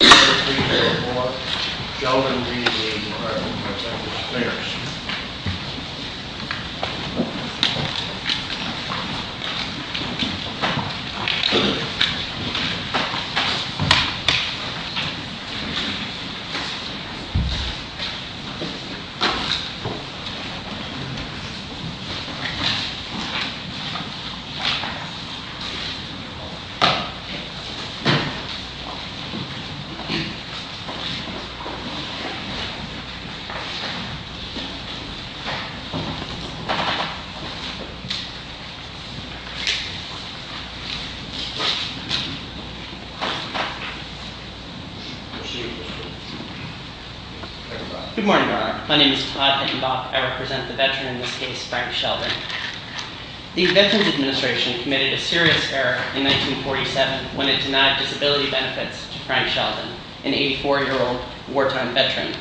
I present before you, Sheldon V. DVA, President of the Spaniards. Good morning. My name is Todd Hickenback. I represent the veteran in this case, Frank Sheldon. The Veterans Administration committed a serious error in 1947 when it denied disability benefits to Frank Sheldon, an 84-year-old wartime veteran.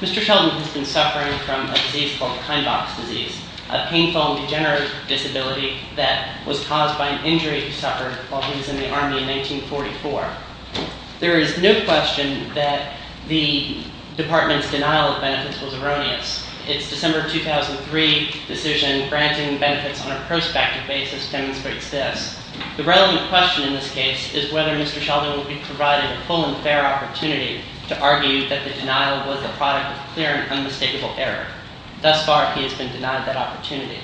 Mr. Sheldon has been suffering from a disease called Kleinbach's disease, a painful and degenerative disability that was caused by an injury he suffered while he was in the Army in 1944. There is no question that the Department's denial of benefits was erroneous. Its December 2003 decision granting benefits on a prospective basis demonstrates this. The relevant question in this case is whether Mr. Sheldon will be provided a full and fair opportunity to argue that the denial was a product of clear and unmistakable error. Thus far, he has been denied that opportunity.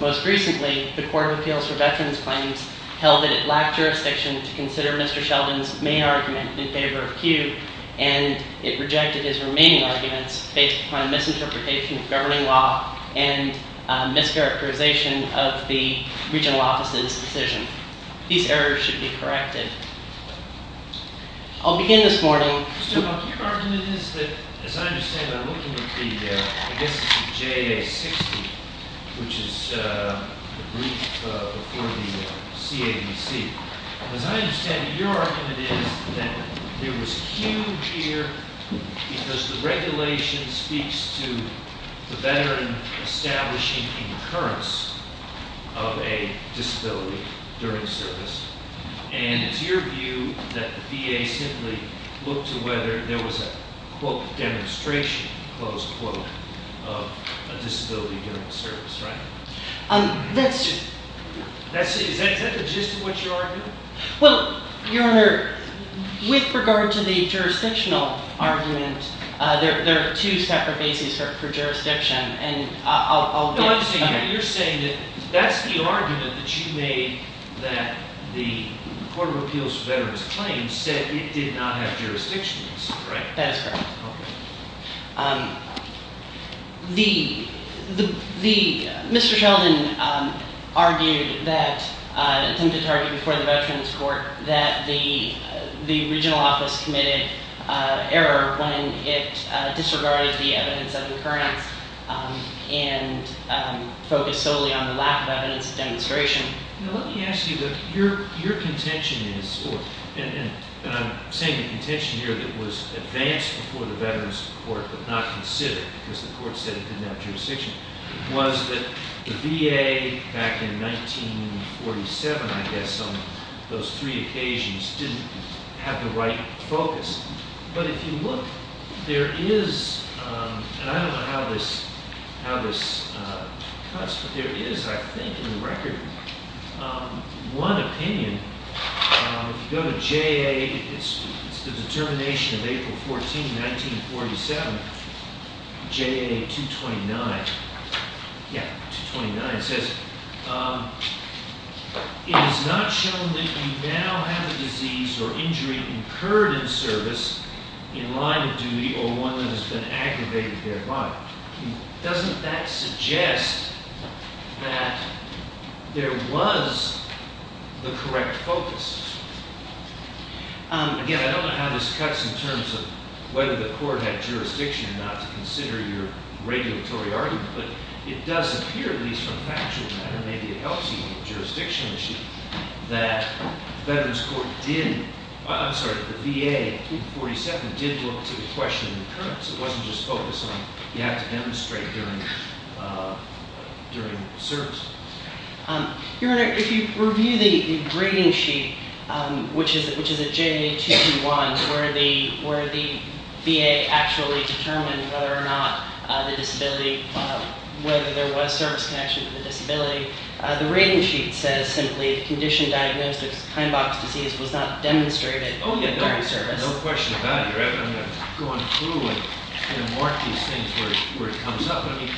Most recently, the Court of Appeals for Veterans Claims held that it lacked jurisdiction to consider Mr. Sheldon's main argument in favor of Kew, and it rejected his remaining arguments based upon a misinterpretation of governing law and a mischaracterization of the regional office's decision. These errors should be corrected. I'll begin this morning. Mr. Baum, your argument is that, as I understand, I'm looking at the – I guess it's the JA-60, which is the brief before the CAVC. As I understand it, your argument is that there was Kew here because the regulation speaks to the veteran establishing a concurrence of a disability during service. And it's your view that the VA simply looked to whether there was a, quote, demonstration, close quote, of a disability during the service, right? That's – Is that the gist of what you're arguing? Well, Your Honor, with regard to the jurisdictional argument, there are two separate bases for jurisdiction, and I'll – No, I'm saying – you're saying that that's the argument that you made that the Court of Appeals for Veterans Claims said it did not have jurisdictions, right? That is correct. Okay. The – Mr. Sheldon argued that – attempted to argue before the Veterans Court that the regional office committed error when it disregarded the evidence of concurrence and focused solely on the lack of evidence of demonstration. Now, let me ask you that your contention is – and I'm saying the contention here that was advanced before the Veterans Court but not considered because the court said it did not have jurisdiction – was that the VA, back in 1947, I guess, on those three occasions, didn't have the right focus. But if you look, there is – and I don't know how this cuts, but there is, I think, in the record, one opinion. If you go to J.A., it's the determination of April 14, 1947, J.A. 229. Yeah, 229. It says, it has not shown that you now have a disease or injury incurred in service in line of duty or one that has been aggravated thereby. Doesn't that suggest that there was the correct focus? Again, I don't know how this cuts in terms of whether the court had jurisdiction not to consider your regulatory argument, but it does appear, at least from factual matter, maybe it helps you on the jurisdiction issue, that the Veterans Court did – I'm sorry, the VA in 1947 did look to the question of concurrence. It wasn't just focused on you have to demonstrate during service. Your Honor, if you review the reading sheet, which is a J.A. 221, where the VA actually determined whether or not the disability – whether there was service connection to the disability, the reading sheet says simply, the condition diagnosed as Heimbach's disease was not demonstrated during service. Oh, yeah, no question about it. I'm going to go on through and mark these things where it comes up. I mean,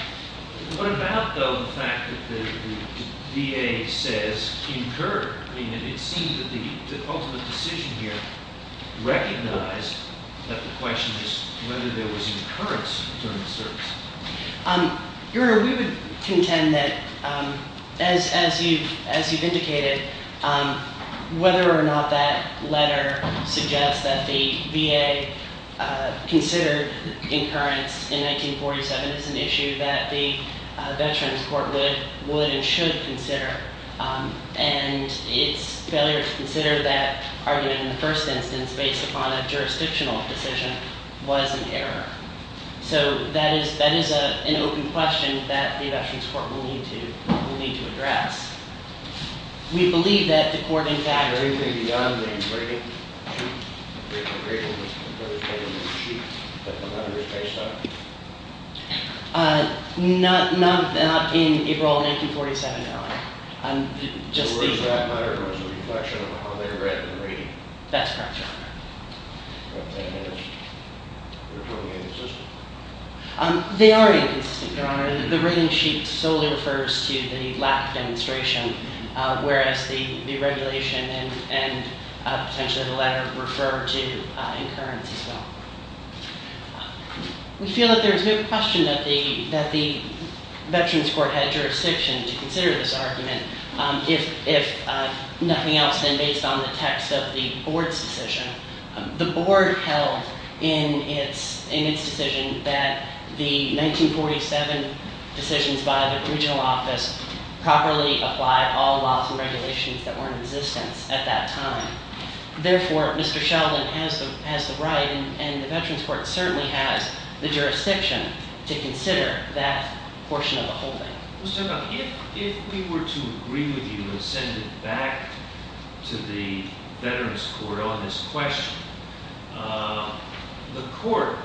what about, though, the fact that the VA says incurred? I mean, it seems that the ultimate decision here recognized that the question is whether there was incurrence during the service. Your Honor, we would contend that, as you've indicated, whether or not that letter suggests that the VA considered incurrence in 1947 is an issue that the Veterans Court would and should consider, and its failure to consider that argument in the first instance based upon a jurisdictional decision was an error. So that is an open question that the Veterans Court will need to address. We believe that the court, in fact- Is there anything beyond the reading sheet that the letter is based on? Not in April of 1947, Your Honor. I'm just thinking- The words in that letter was a reflection of how they read the reading. That's correct, Your Honor. But that is, you're talking inconsistent? They are inconsistent, Your Honor. The reading sheet solely refers to the lack of demonstration, whereas the regulation and potentially the letter refer to incurrence as well. We feel that there is no question that the Veterans Court had jurisdiction to consider this argument if nothing else than based on the text of the board's decision. The board held in its decision that the 1947 decisions by the regional office properly applied all laws and regulations that were in existence at that time. Therefore, Mr. Sheldon has the right and the Veterans Court certainly has the jurisdiction to consider that portion of the holding. Mr. Huck, if we were to agree with you and send it back to the Veterans Court on this question, the court,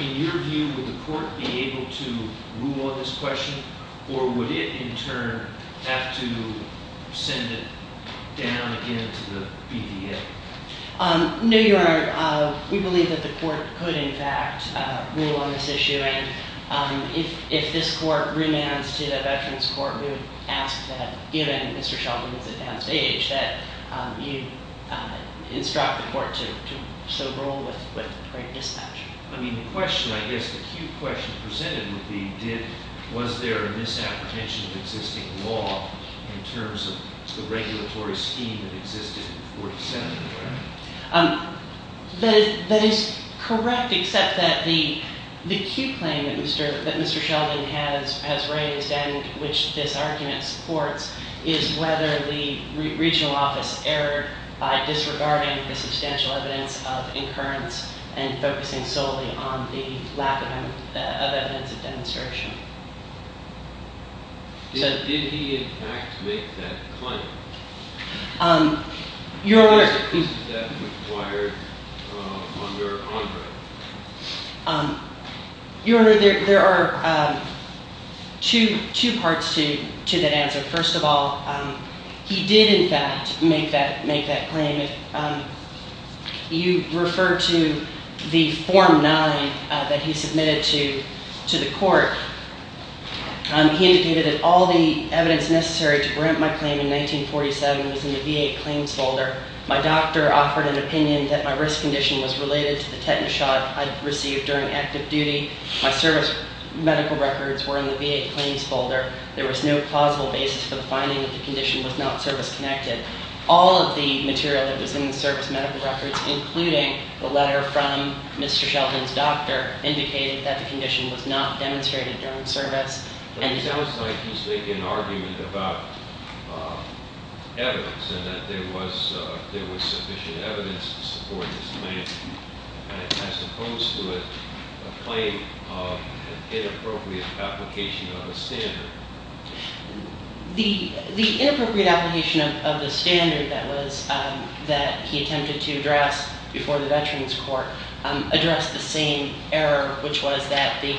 in your view, would the court be able to rule on this question? Or would it, in turn, have to send it down again to the BVA? No, Your Honor. We believe that the court could, in fact, rule on this issue. If this court remands to the Veterans Court, we would ask that, given Mr. Sheldon is at downstage, that you instruct the court to so rule with great dispatch. I mean, the question, I guess, the key question presented would be, was there a misapprehension of existing law in terms of the regulatory scheme that existed in 1947? That is correct, except that the key claim that Mr. Sheldon has raised, and which this argument supports, is whether the regional office erred by disregarding the substantial evidence of incurrence and focusing solely on the lack of evidence of demonstration. Did he, in fact, make that claim? Your Honor, there are two parts to that answer. First of all, he did, in fact, make that claim. You referred to the Form 9 that he submitted to the court. He indicated that all the evidence necessary to grant my claim in 1947 was in the VA Claims folder. My doctor offered an opinion that my risk condition was related to the tetanus shot I'd received during active duty. My service medical records were in the VA Claims folder. There was no plausible basis for the finding that the condition was not service-connected. All of the material that was in the service medical records, including the letter from Mr. Sheldon's doctor, indicated that the condition was not demonstrated during service. But it sounds like he's making an argument about evidence, and that there was sufficient evidence to support his claim, as opposed to a claim of an inappropriate application of a standard. The inappropriate application of the standard that he attempted to address before the Veterans Court addressed the same error, which was that the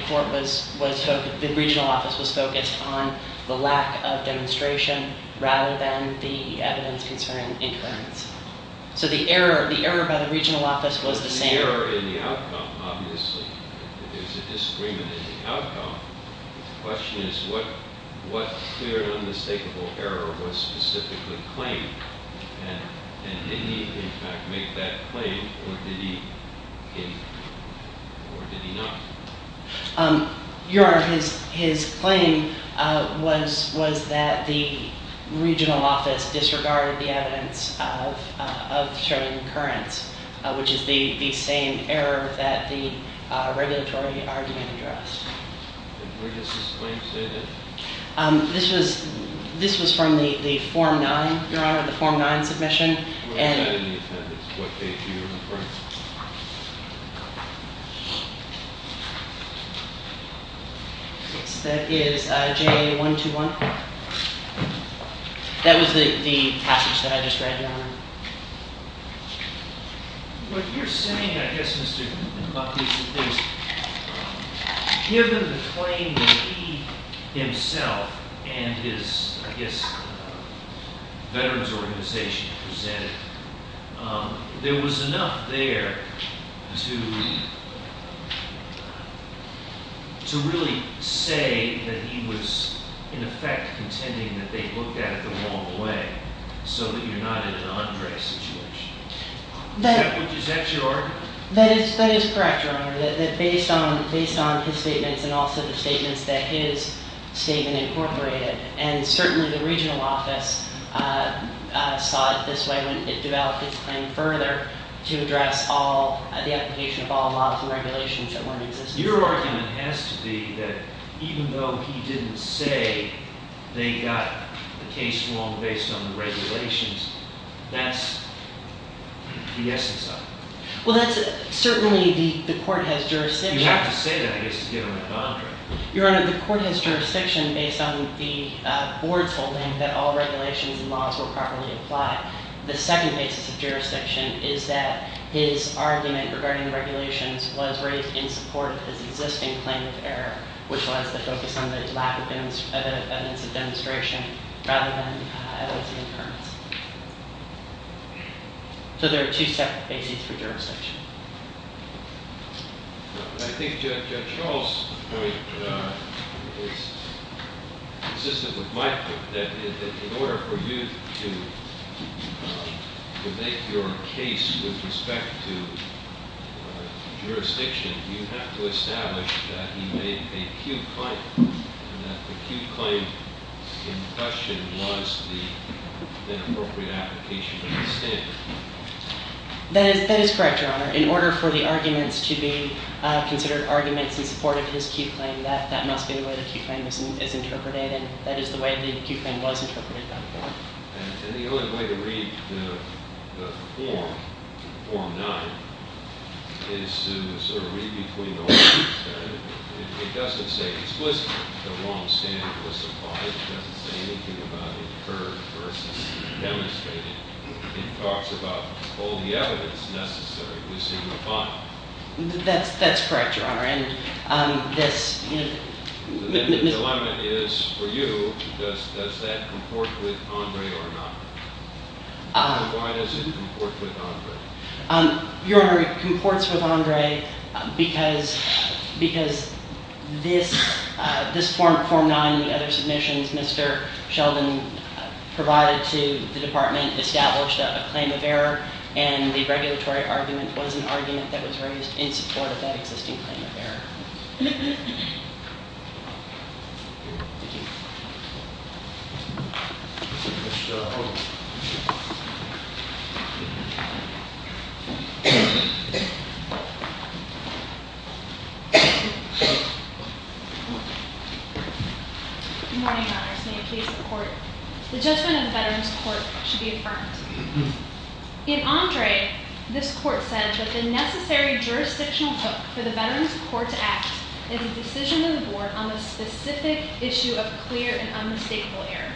regional office was focused on the lack of demonstration rather than the evidence concerning inference. So the error by the regional office was the same. There's an error in the outcome, obviously. There's a disagreement in the outcome. The question is, what clear and unmistakable error was specifically claimed? And did he, in fact, make that claim, or did he not? Your Honor, his claim was that the regional office disregarded the evidence of certain occurrence, which is the same error that the regulatory argument addressed. And where does this claim say that? This was from the Form 9, Your Honor, the Form 9 submission. Where is that in the attendance? What page are you referring to? Yes, that is JA121. That was the passage that I just read, Your Honor. What you're saying, I guess, Mr. McLaughlin, is given the claim that he himself and his, I guess, veterans organization presented, there was enough there to really say that he was, in effect, contending that they looked at it the wrong way, so that you're not in an Andre situation. Is that your argument? That is correct, Your Honor, that based on his statements and also the statements that his statement incorporated, and certainly the regional office saw it this way when it developed its claim further to address the application of all laws and regulations that weren't existing. Your argument has to be that even though he didn't say they got the case wrong based on the regulations, that's the essence of it. Well, that's certainly the court has jurisdiction. You have to say that, I guess, to get him to conder it. Your Honor, the court has jurisdiction based on the board's holding that all regulations and laws were properly applied. The second basis of jurisdiction is that his argument regarding the regulations was raised in support of his existing claim of error, which was the focus on the lack of evidence of demonstration rather than evidence of occurrence. So there are two separate bases for jurisdiction. I think Judge Charles' point is consistent with my point, that in order for you to make your case with respect to jurisdiction, you have to establish that he made a Q claim, and that the Q claim in question was the appropriate application of the standard. That is correct, Your Honor. In order for the arguments to be considered arguments in support of his Q claim, that must be the way the Q claim is interpreted, and that is the way the Q claim was interpreted by the board. And the only way to read the form, form nine, is to sort of read between the lines. It doesn't say explicitly the wrong standard was applied. It doesn't say anything about it occurred versus demonstrated. It talks about all the evidence necessary to signify. That's correct, Your Honor. If the limit is for you, does that comport with Andre or not? Why does it comport with Andre? Your Honor, it comports with Andre because this form, form nine, and the other submissions Mr. Sheldon provided to the department established a claim of error, and the regulatory argument was an argument that was raised in support of that existing claim of error. Good morning, Your Honors. The judgment of the Veterans Court should be affirmed. In Andre, this court said that the necessary jurisdictional hook for the Veterans Court to act is a decision of the board on the specific issue of clear and unmistakable error.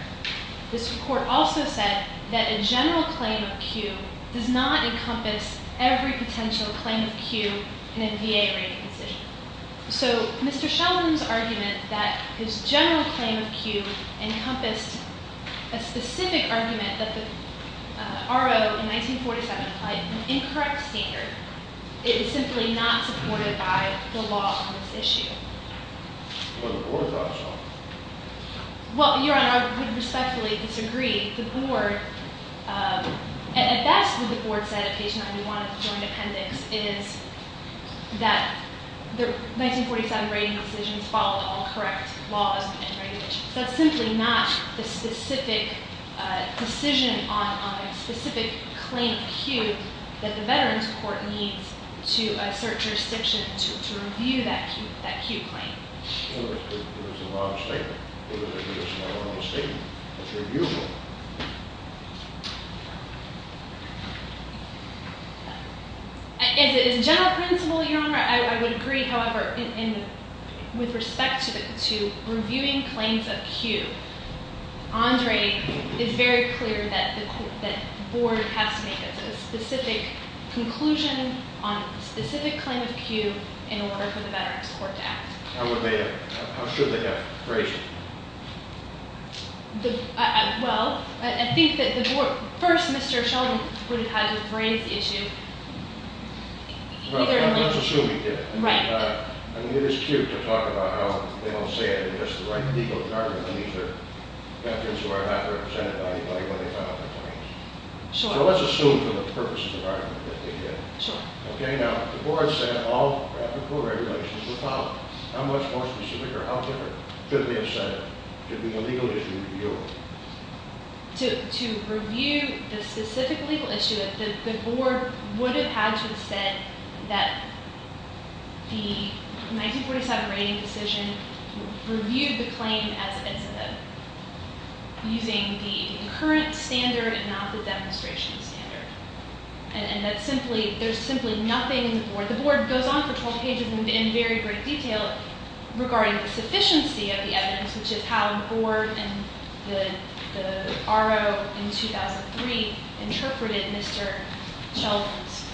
This court also said that a general claim of Q does not encompass every potential claim of Q in a VA rating decision. So Mr. Sheldon's argument that his general claim of Q encompassed a specific argument that the R.O. in 1947 applied an incorrect standard is simply not supported by the law on this issue. But the board thought so. Well, Your Honor, I would respectfully disagree. The board, and that's what the board said at page 91 of the joint appendix, is that the 1947 rating decisions followed all correct laws and regulations. That's simply not the specific decision on a specific claim of Q that the Veterans Court needs to assert jurisdiction to review that Q claim. It was a wrong statement. It was a wrong statement to review. As a general principle, Your Honor, I would agree, however, with respect to reviewing claims of Q, Andre is very clear that the board has to make a specific conclusion on a specific claim of Q in order for the Veterans Court to act. How would they have, how should they have phrased it? Well, I think that the board, first Mr. Sheldon would have had to rephrase the issue. Well, let's assume he did. Right. I mean, it is cute to talk about how they don't say it in just the right legal jargon when these are veterans who are not represented by anybody when they file their claims. Sure. So let's assume for the purposes of argument that they did. Sure. Okay, now if the board said all Q regulations were filed, how much more specific or how different could they have said it? Could be a legal issue to review. To review the specific legal issue, the board would have had to have said that the 1947 rating decision reviewed the claim as using the current standard and not the demonstration standard. And that simply, there's simply nothing in the board. The board goes on for 12 pages in very great detail regarding the sufficiency of the evidence, which is how the board and the RO in 2003 interpreted Mr. Sheldon's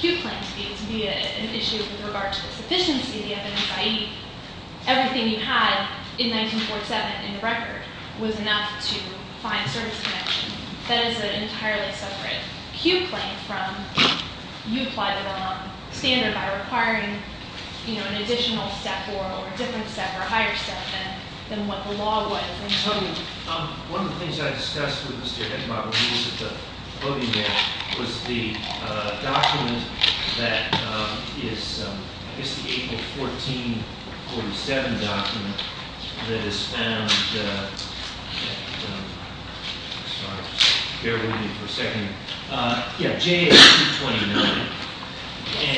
Q claims to be an issue with regard to the sufficiency of the evidence, i.e., everything you had in 1947 in the record was enough to find service connection. That is an entirely separate Q claim from you applied the wrong standard by requiring an additional step or a different step or a higher step than what the law would have told you. One of the things I discussed with Mr. Hickenlooper was the document that is, I guess, the April 14, 47 document that is found at, I'm sorry, bear with me for a second. Yeah, J.A. 229.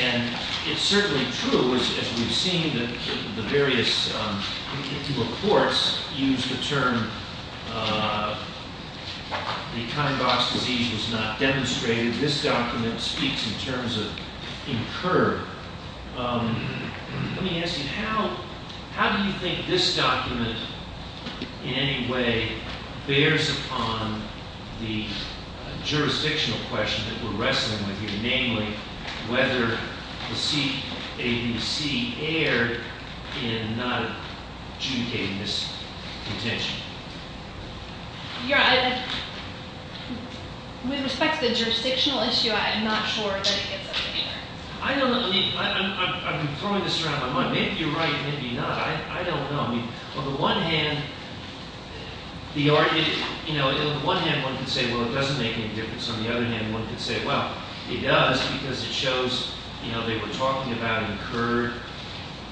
And it's certainly true, as we've seen, that the various reports use the term the kind of box disease was not demonstrated. This document speaks in terms of incurred. Let me ask you, how do you think this document in any way bears upon the jurisdictional question that we're wrestling with here, namely whether the CAVC erred in not adjudicating this contention? With respect to the jurisdictional issue, I'm not sure that it gets up to here. I'm throwing this around my mind. Maybe you're right. Maybe not. I don't know. On the one hand, one could say, well, it doesn't make any difference. On the other hand, one could say, well, it does because it shows they were talking about incurred.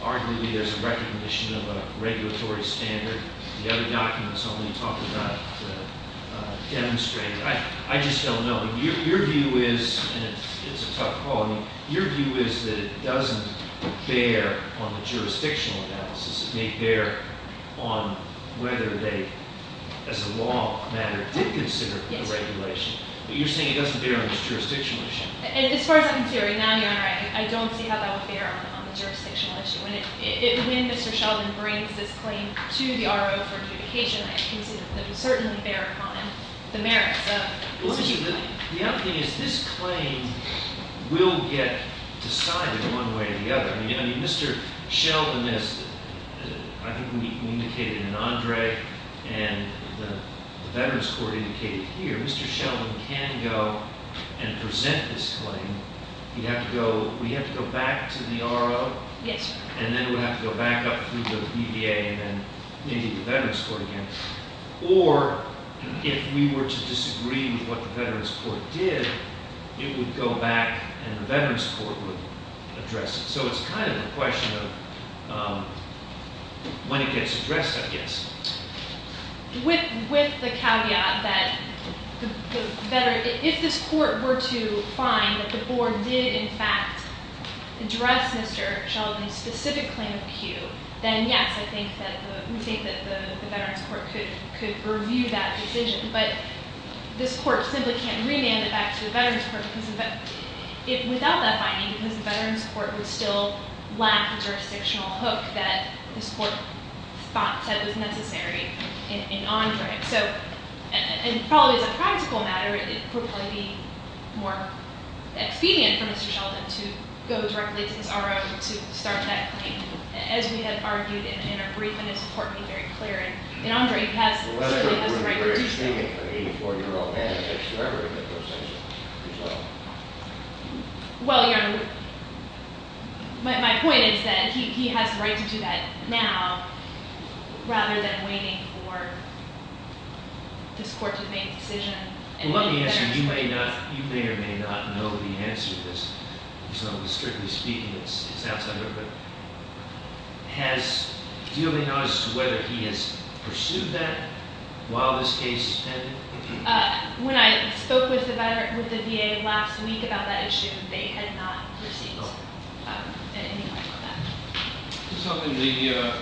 Arguably, there's a recognition of a regulatory standard. The other documents only talk about demonstrated. I just don't know. Your view is, and it's a tough call, your view is that it doesn't bear on the jurisdictional analysis. It may bear on whether they, as a law matter, did consider the regulation. But you're saying it doesn't bear on this jurisdictional issue. As far as I'm considering, Your Honor, I don't see how that would bear on the jurisdictional issue. When Mr. Sheldon brings this claim to the RO for adjudication, I can see that it would certainly bear upon him the merits of this claim. The other thing is this claim will get decided one way or the other. I mean, Mr. Sheldon, as I think we indicated in Andre and the Veterans Court indicated here, Mr. Sheldon can go and present this claim. We'd have to go back to the RO. Yes, sir. And then we'd have to go back up through the BVA and then maybe the Veterans Court again. Or if we were to disagree with what the Veterans Court did, it would go back and the Veterans Court would address it. So it's kind of a question of when it gets addressed, I guess. With the caveat that if this court were to find that the board did, in fact, address Mr. Sheldon's specific claim of a cue, then yes, I think that the Veterans Court could review that decision. But this court simply can't remand it back to the Veterans Court without that finding because the Veterans Court would still lack the jurisdictional hook that this court thought that was necessary in Andre. So, and probably as a practical matter, it would probably be more expedient for Mr. Sheldon to go directly to his RO to start that claim. As we have argued in our brief and as the court made very clear in Andre, he certainly has the right to do so. Well, that's not going to be very expedient for an 84-year-old man if he ever did those things himself. Well, my point is that he has the right to do that now rather than waiting for this court to make a decision. Let me ask you, you may or may not know the answer to this. Strictly speaking, it's outside of it. Do you have any notice as to whether he has pursued that while this case is pending? When I spoke with the VA last week about that issue, they had not received anything like that.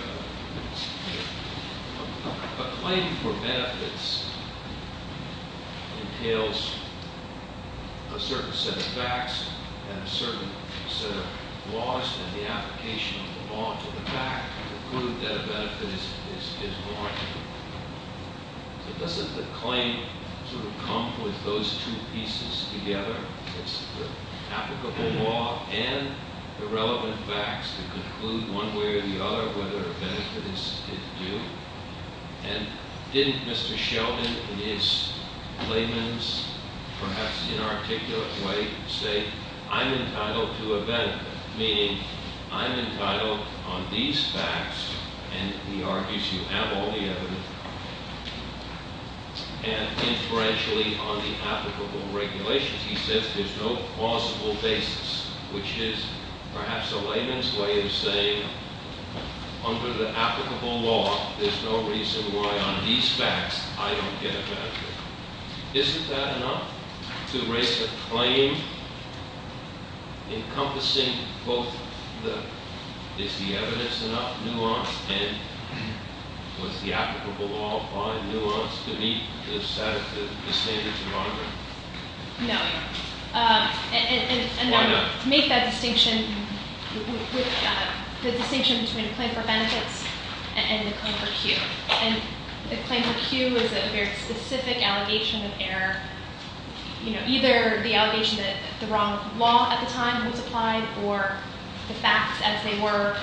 A claim for benefits entails a certain set of facts and a certain set of laws and the application of the law to the fact to prove that a benefit is warranted. Doesn't the claim sort of come with those two pieces together? It's the applicable law and the relevant facts to conclude one way or the other whether a benefit is due? And didn't Mr. Sheldon in his claimants, perhaps inarticulate way, say, I'm entitled to a benefit, meaning I'm entitled on these facts, and he argues you have all the evidence, and inferentially on the applicable regulations. He says there's no plausible basis, which is perhaps a layman's way of saying under the applicable law, there's no reason why on these facts I don't get a benefit. Isn't that enough to raise a claim encompassing both the, is the evidence enough, nuance, and was the applicable law a fine nuance to meet the standards of argument? No. Why not? Make that distinction, the distinction between a claim for benefits and a claim for Q. And the claim for Q is a very specific allegation of error. You know, either the allegation that the wrong law at the time was applied or the facts as they were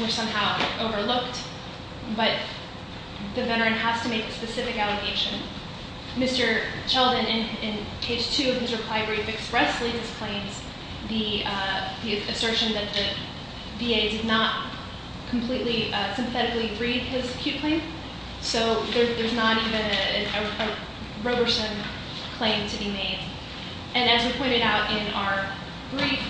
were somehow overlooked, but the veteran has to make a specific allegation. Mr. Sheldon, in page two of his reply brief, expressly disclaims the assertion that the VA did not completely, sympathetically read his Q claim. So there's not even a rubbersome claim to be made. And as we pointed out in our brief,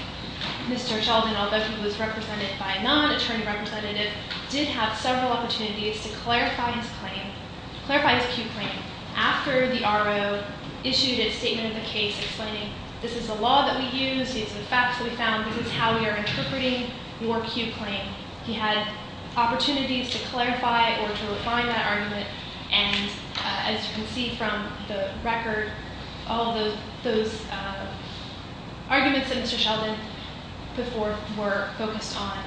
Mr. Sheldon, although he was represented by a non-attorney representative, did have several opportunities to clarify his claim, clarify his Q claim, after the RO issued a statement of the case explaining this is the law that we use, these are the facts that we found, this is how we are interpreting your Q claim. He had opportunities to clarify or to refine that argument, and as you can see from the record, all those arguments that Mr. Sheldon put forth were focused on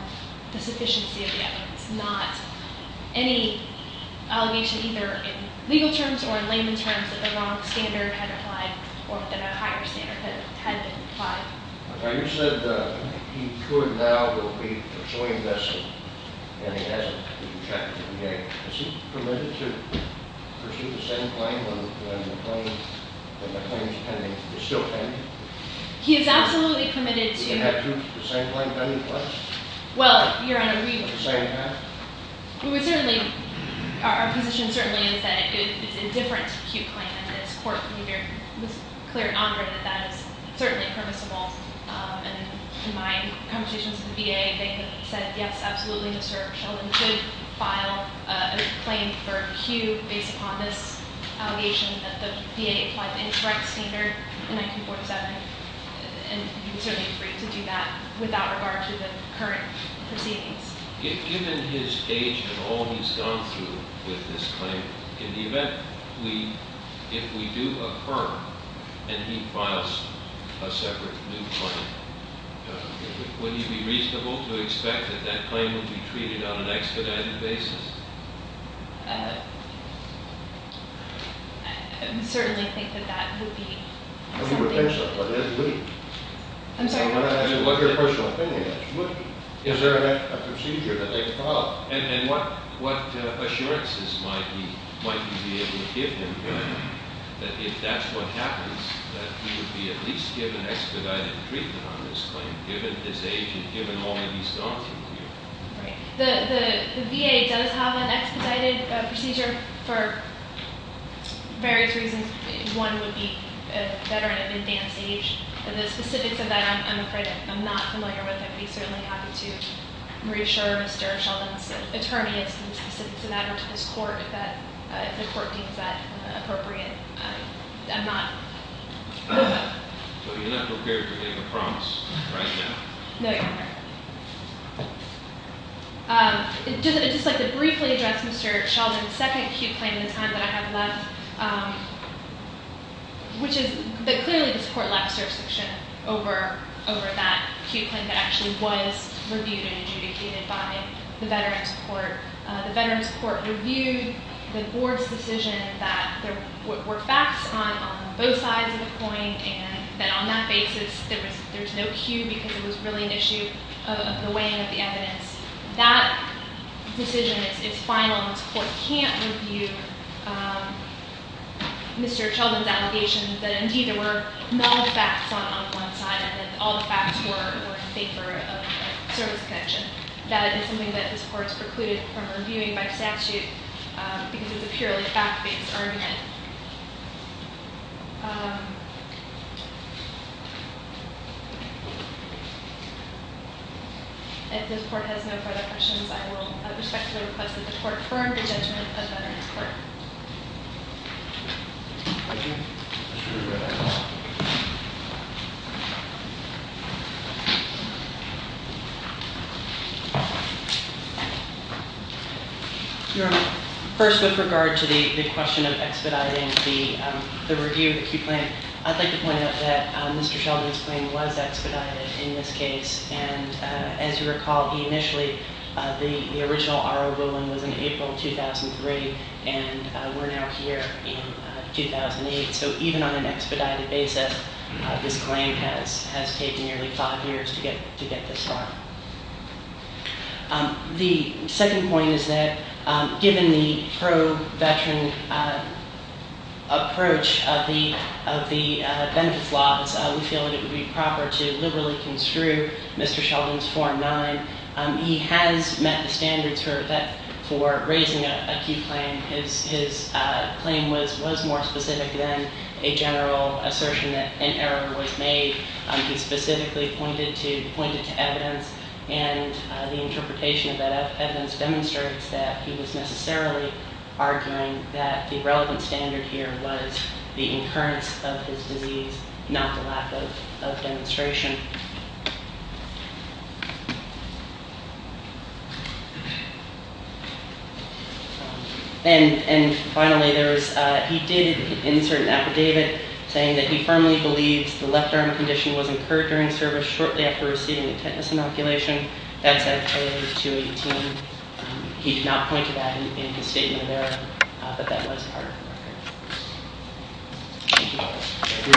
the sufficiency of the evidence, not any allegation either in legal terms or in layman terms that the wrong standard had applied or that a higher standard had been applied. The claimant said he could now be pursuing this and he hasn't. Is he permitted to pursue the same claim when the claim is pending, is still pending? He is absolutely committed to- Do you have the same claim pending, please? Well, your Honor, we would- The same path? We would certainly, our position certainly is that it's a different Q claim, and this court was clear and honored that that is certainly permissible, and in my conversations with the VA, they have said yes, absolutely, Mr. Sheldon could file a claim for Q based upon this allegation that the VA applied the incorrect standard in 1947, and we would certainly agree to do that without regard to the current proceedings. Given his age and all he's gone through with this claim, in the event if we do occur and he files a separate new claim, would it be reasonable to expect that that claim would be treated on an expedited basis? I certainly think that that would be something- I'm sorry? I mean, what your personal opinion is. Is there a procedure that they could follow? And what assurances might we be able to give him that if that's what happens, that he would be at least given expedited treatment on this claim, given his age and given all that he's gone through here? The VA does have an expedited procedure for various reasons. One would be a veteran of advanced age, and the specifics of that I'm afraid I'm not familiar with. I would be certainly happy to reassure Mr. Sheldon's attorney as to the specifics of that, or to this court, that the court deems that appropriate. I'm not- So you're not prepared to make a promise right now? No, Your Honor. I'd just like to briefly address Mr. Sheldon's second acute claim in the time that I have left, which is that clearly this court left a certification over that acute claim that actually was reviewed and adjudicated by the Veterans Court. The Veterans Court reviewed the board's decision that there were facts on both sides of the coin, and that on that basis there's no cue because it was really an issue of the weighing of the evidence. That decision is final, and this court can't review Mr. Sheldon's allegation that indeed there were no facts on one side, and that all the facts were in favor of the service connection. That is something that this court's precluded from reviewing by statute because it's a purely fact-based argument. If this court has no further questions, I will respect the request of the court firm, the judgment of the Veterans Court. Thank you. Your Honor, first with regard to the question of expediting the review of the acute claim, I'd like to point out that Mr. Sheldon's claim was expedited in this case, and as you recall, initially the original R01 was in April 2003, and we're now here in 2008. So even on an expedited basis, this claim has taken nearly five years to get this far. The second point is that given the pro-veteran approach of the benefits laws, we feel that it would be proper to liberally construe Mr. Sheldon's form nine. He has met the standards for raising an acute claim. His claim was more specific than a general assertion that an error was made. He specifically pointed to evidence, and the interpretation of that evidence demonstrates that he was necessarily arguing that the relevant standard here was the occurrence of his disease, not the lack of demonstration. And finally, he did insert an affidavit saying that he firmly believes the left arm condition was incurred during service shortly after receiving a tetanus inoculation. That's at page 218. He did not point to that in his statement there, but that was part of it.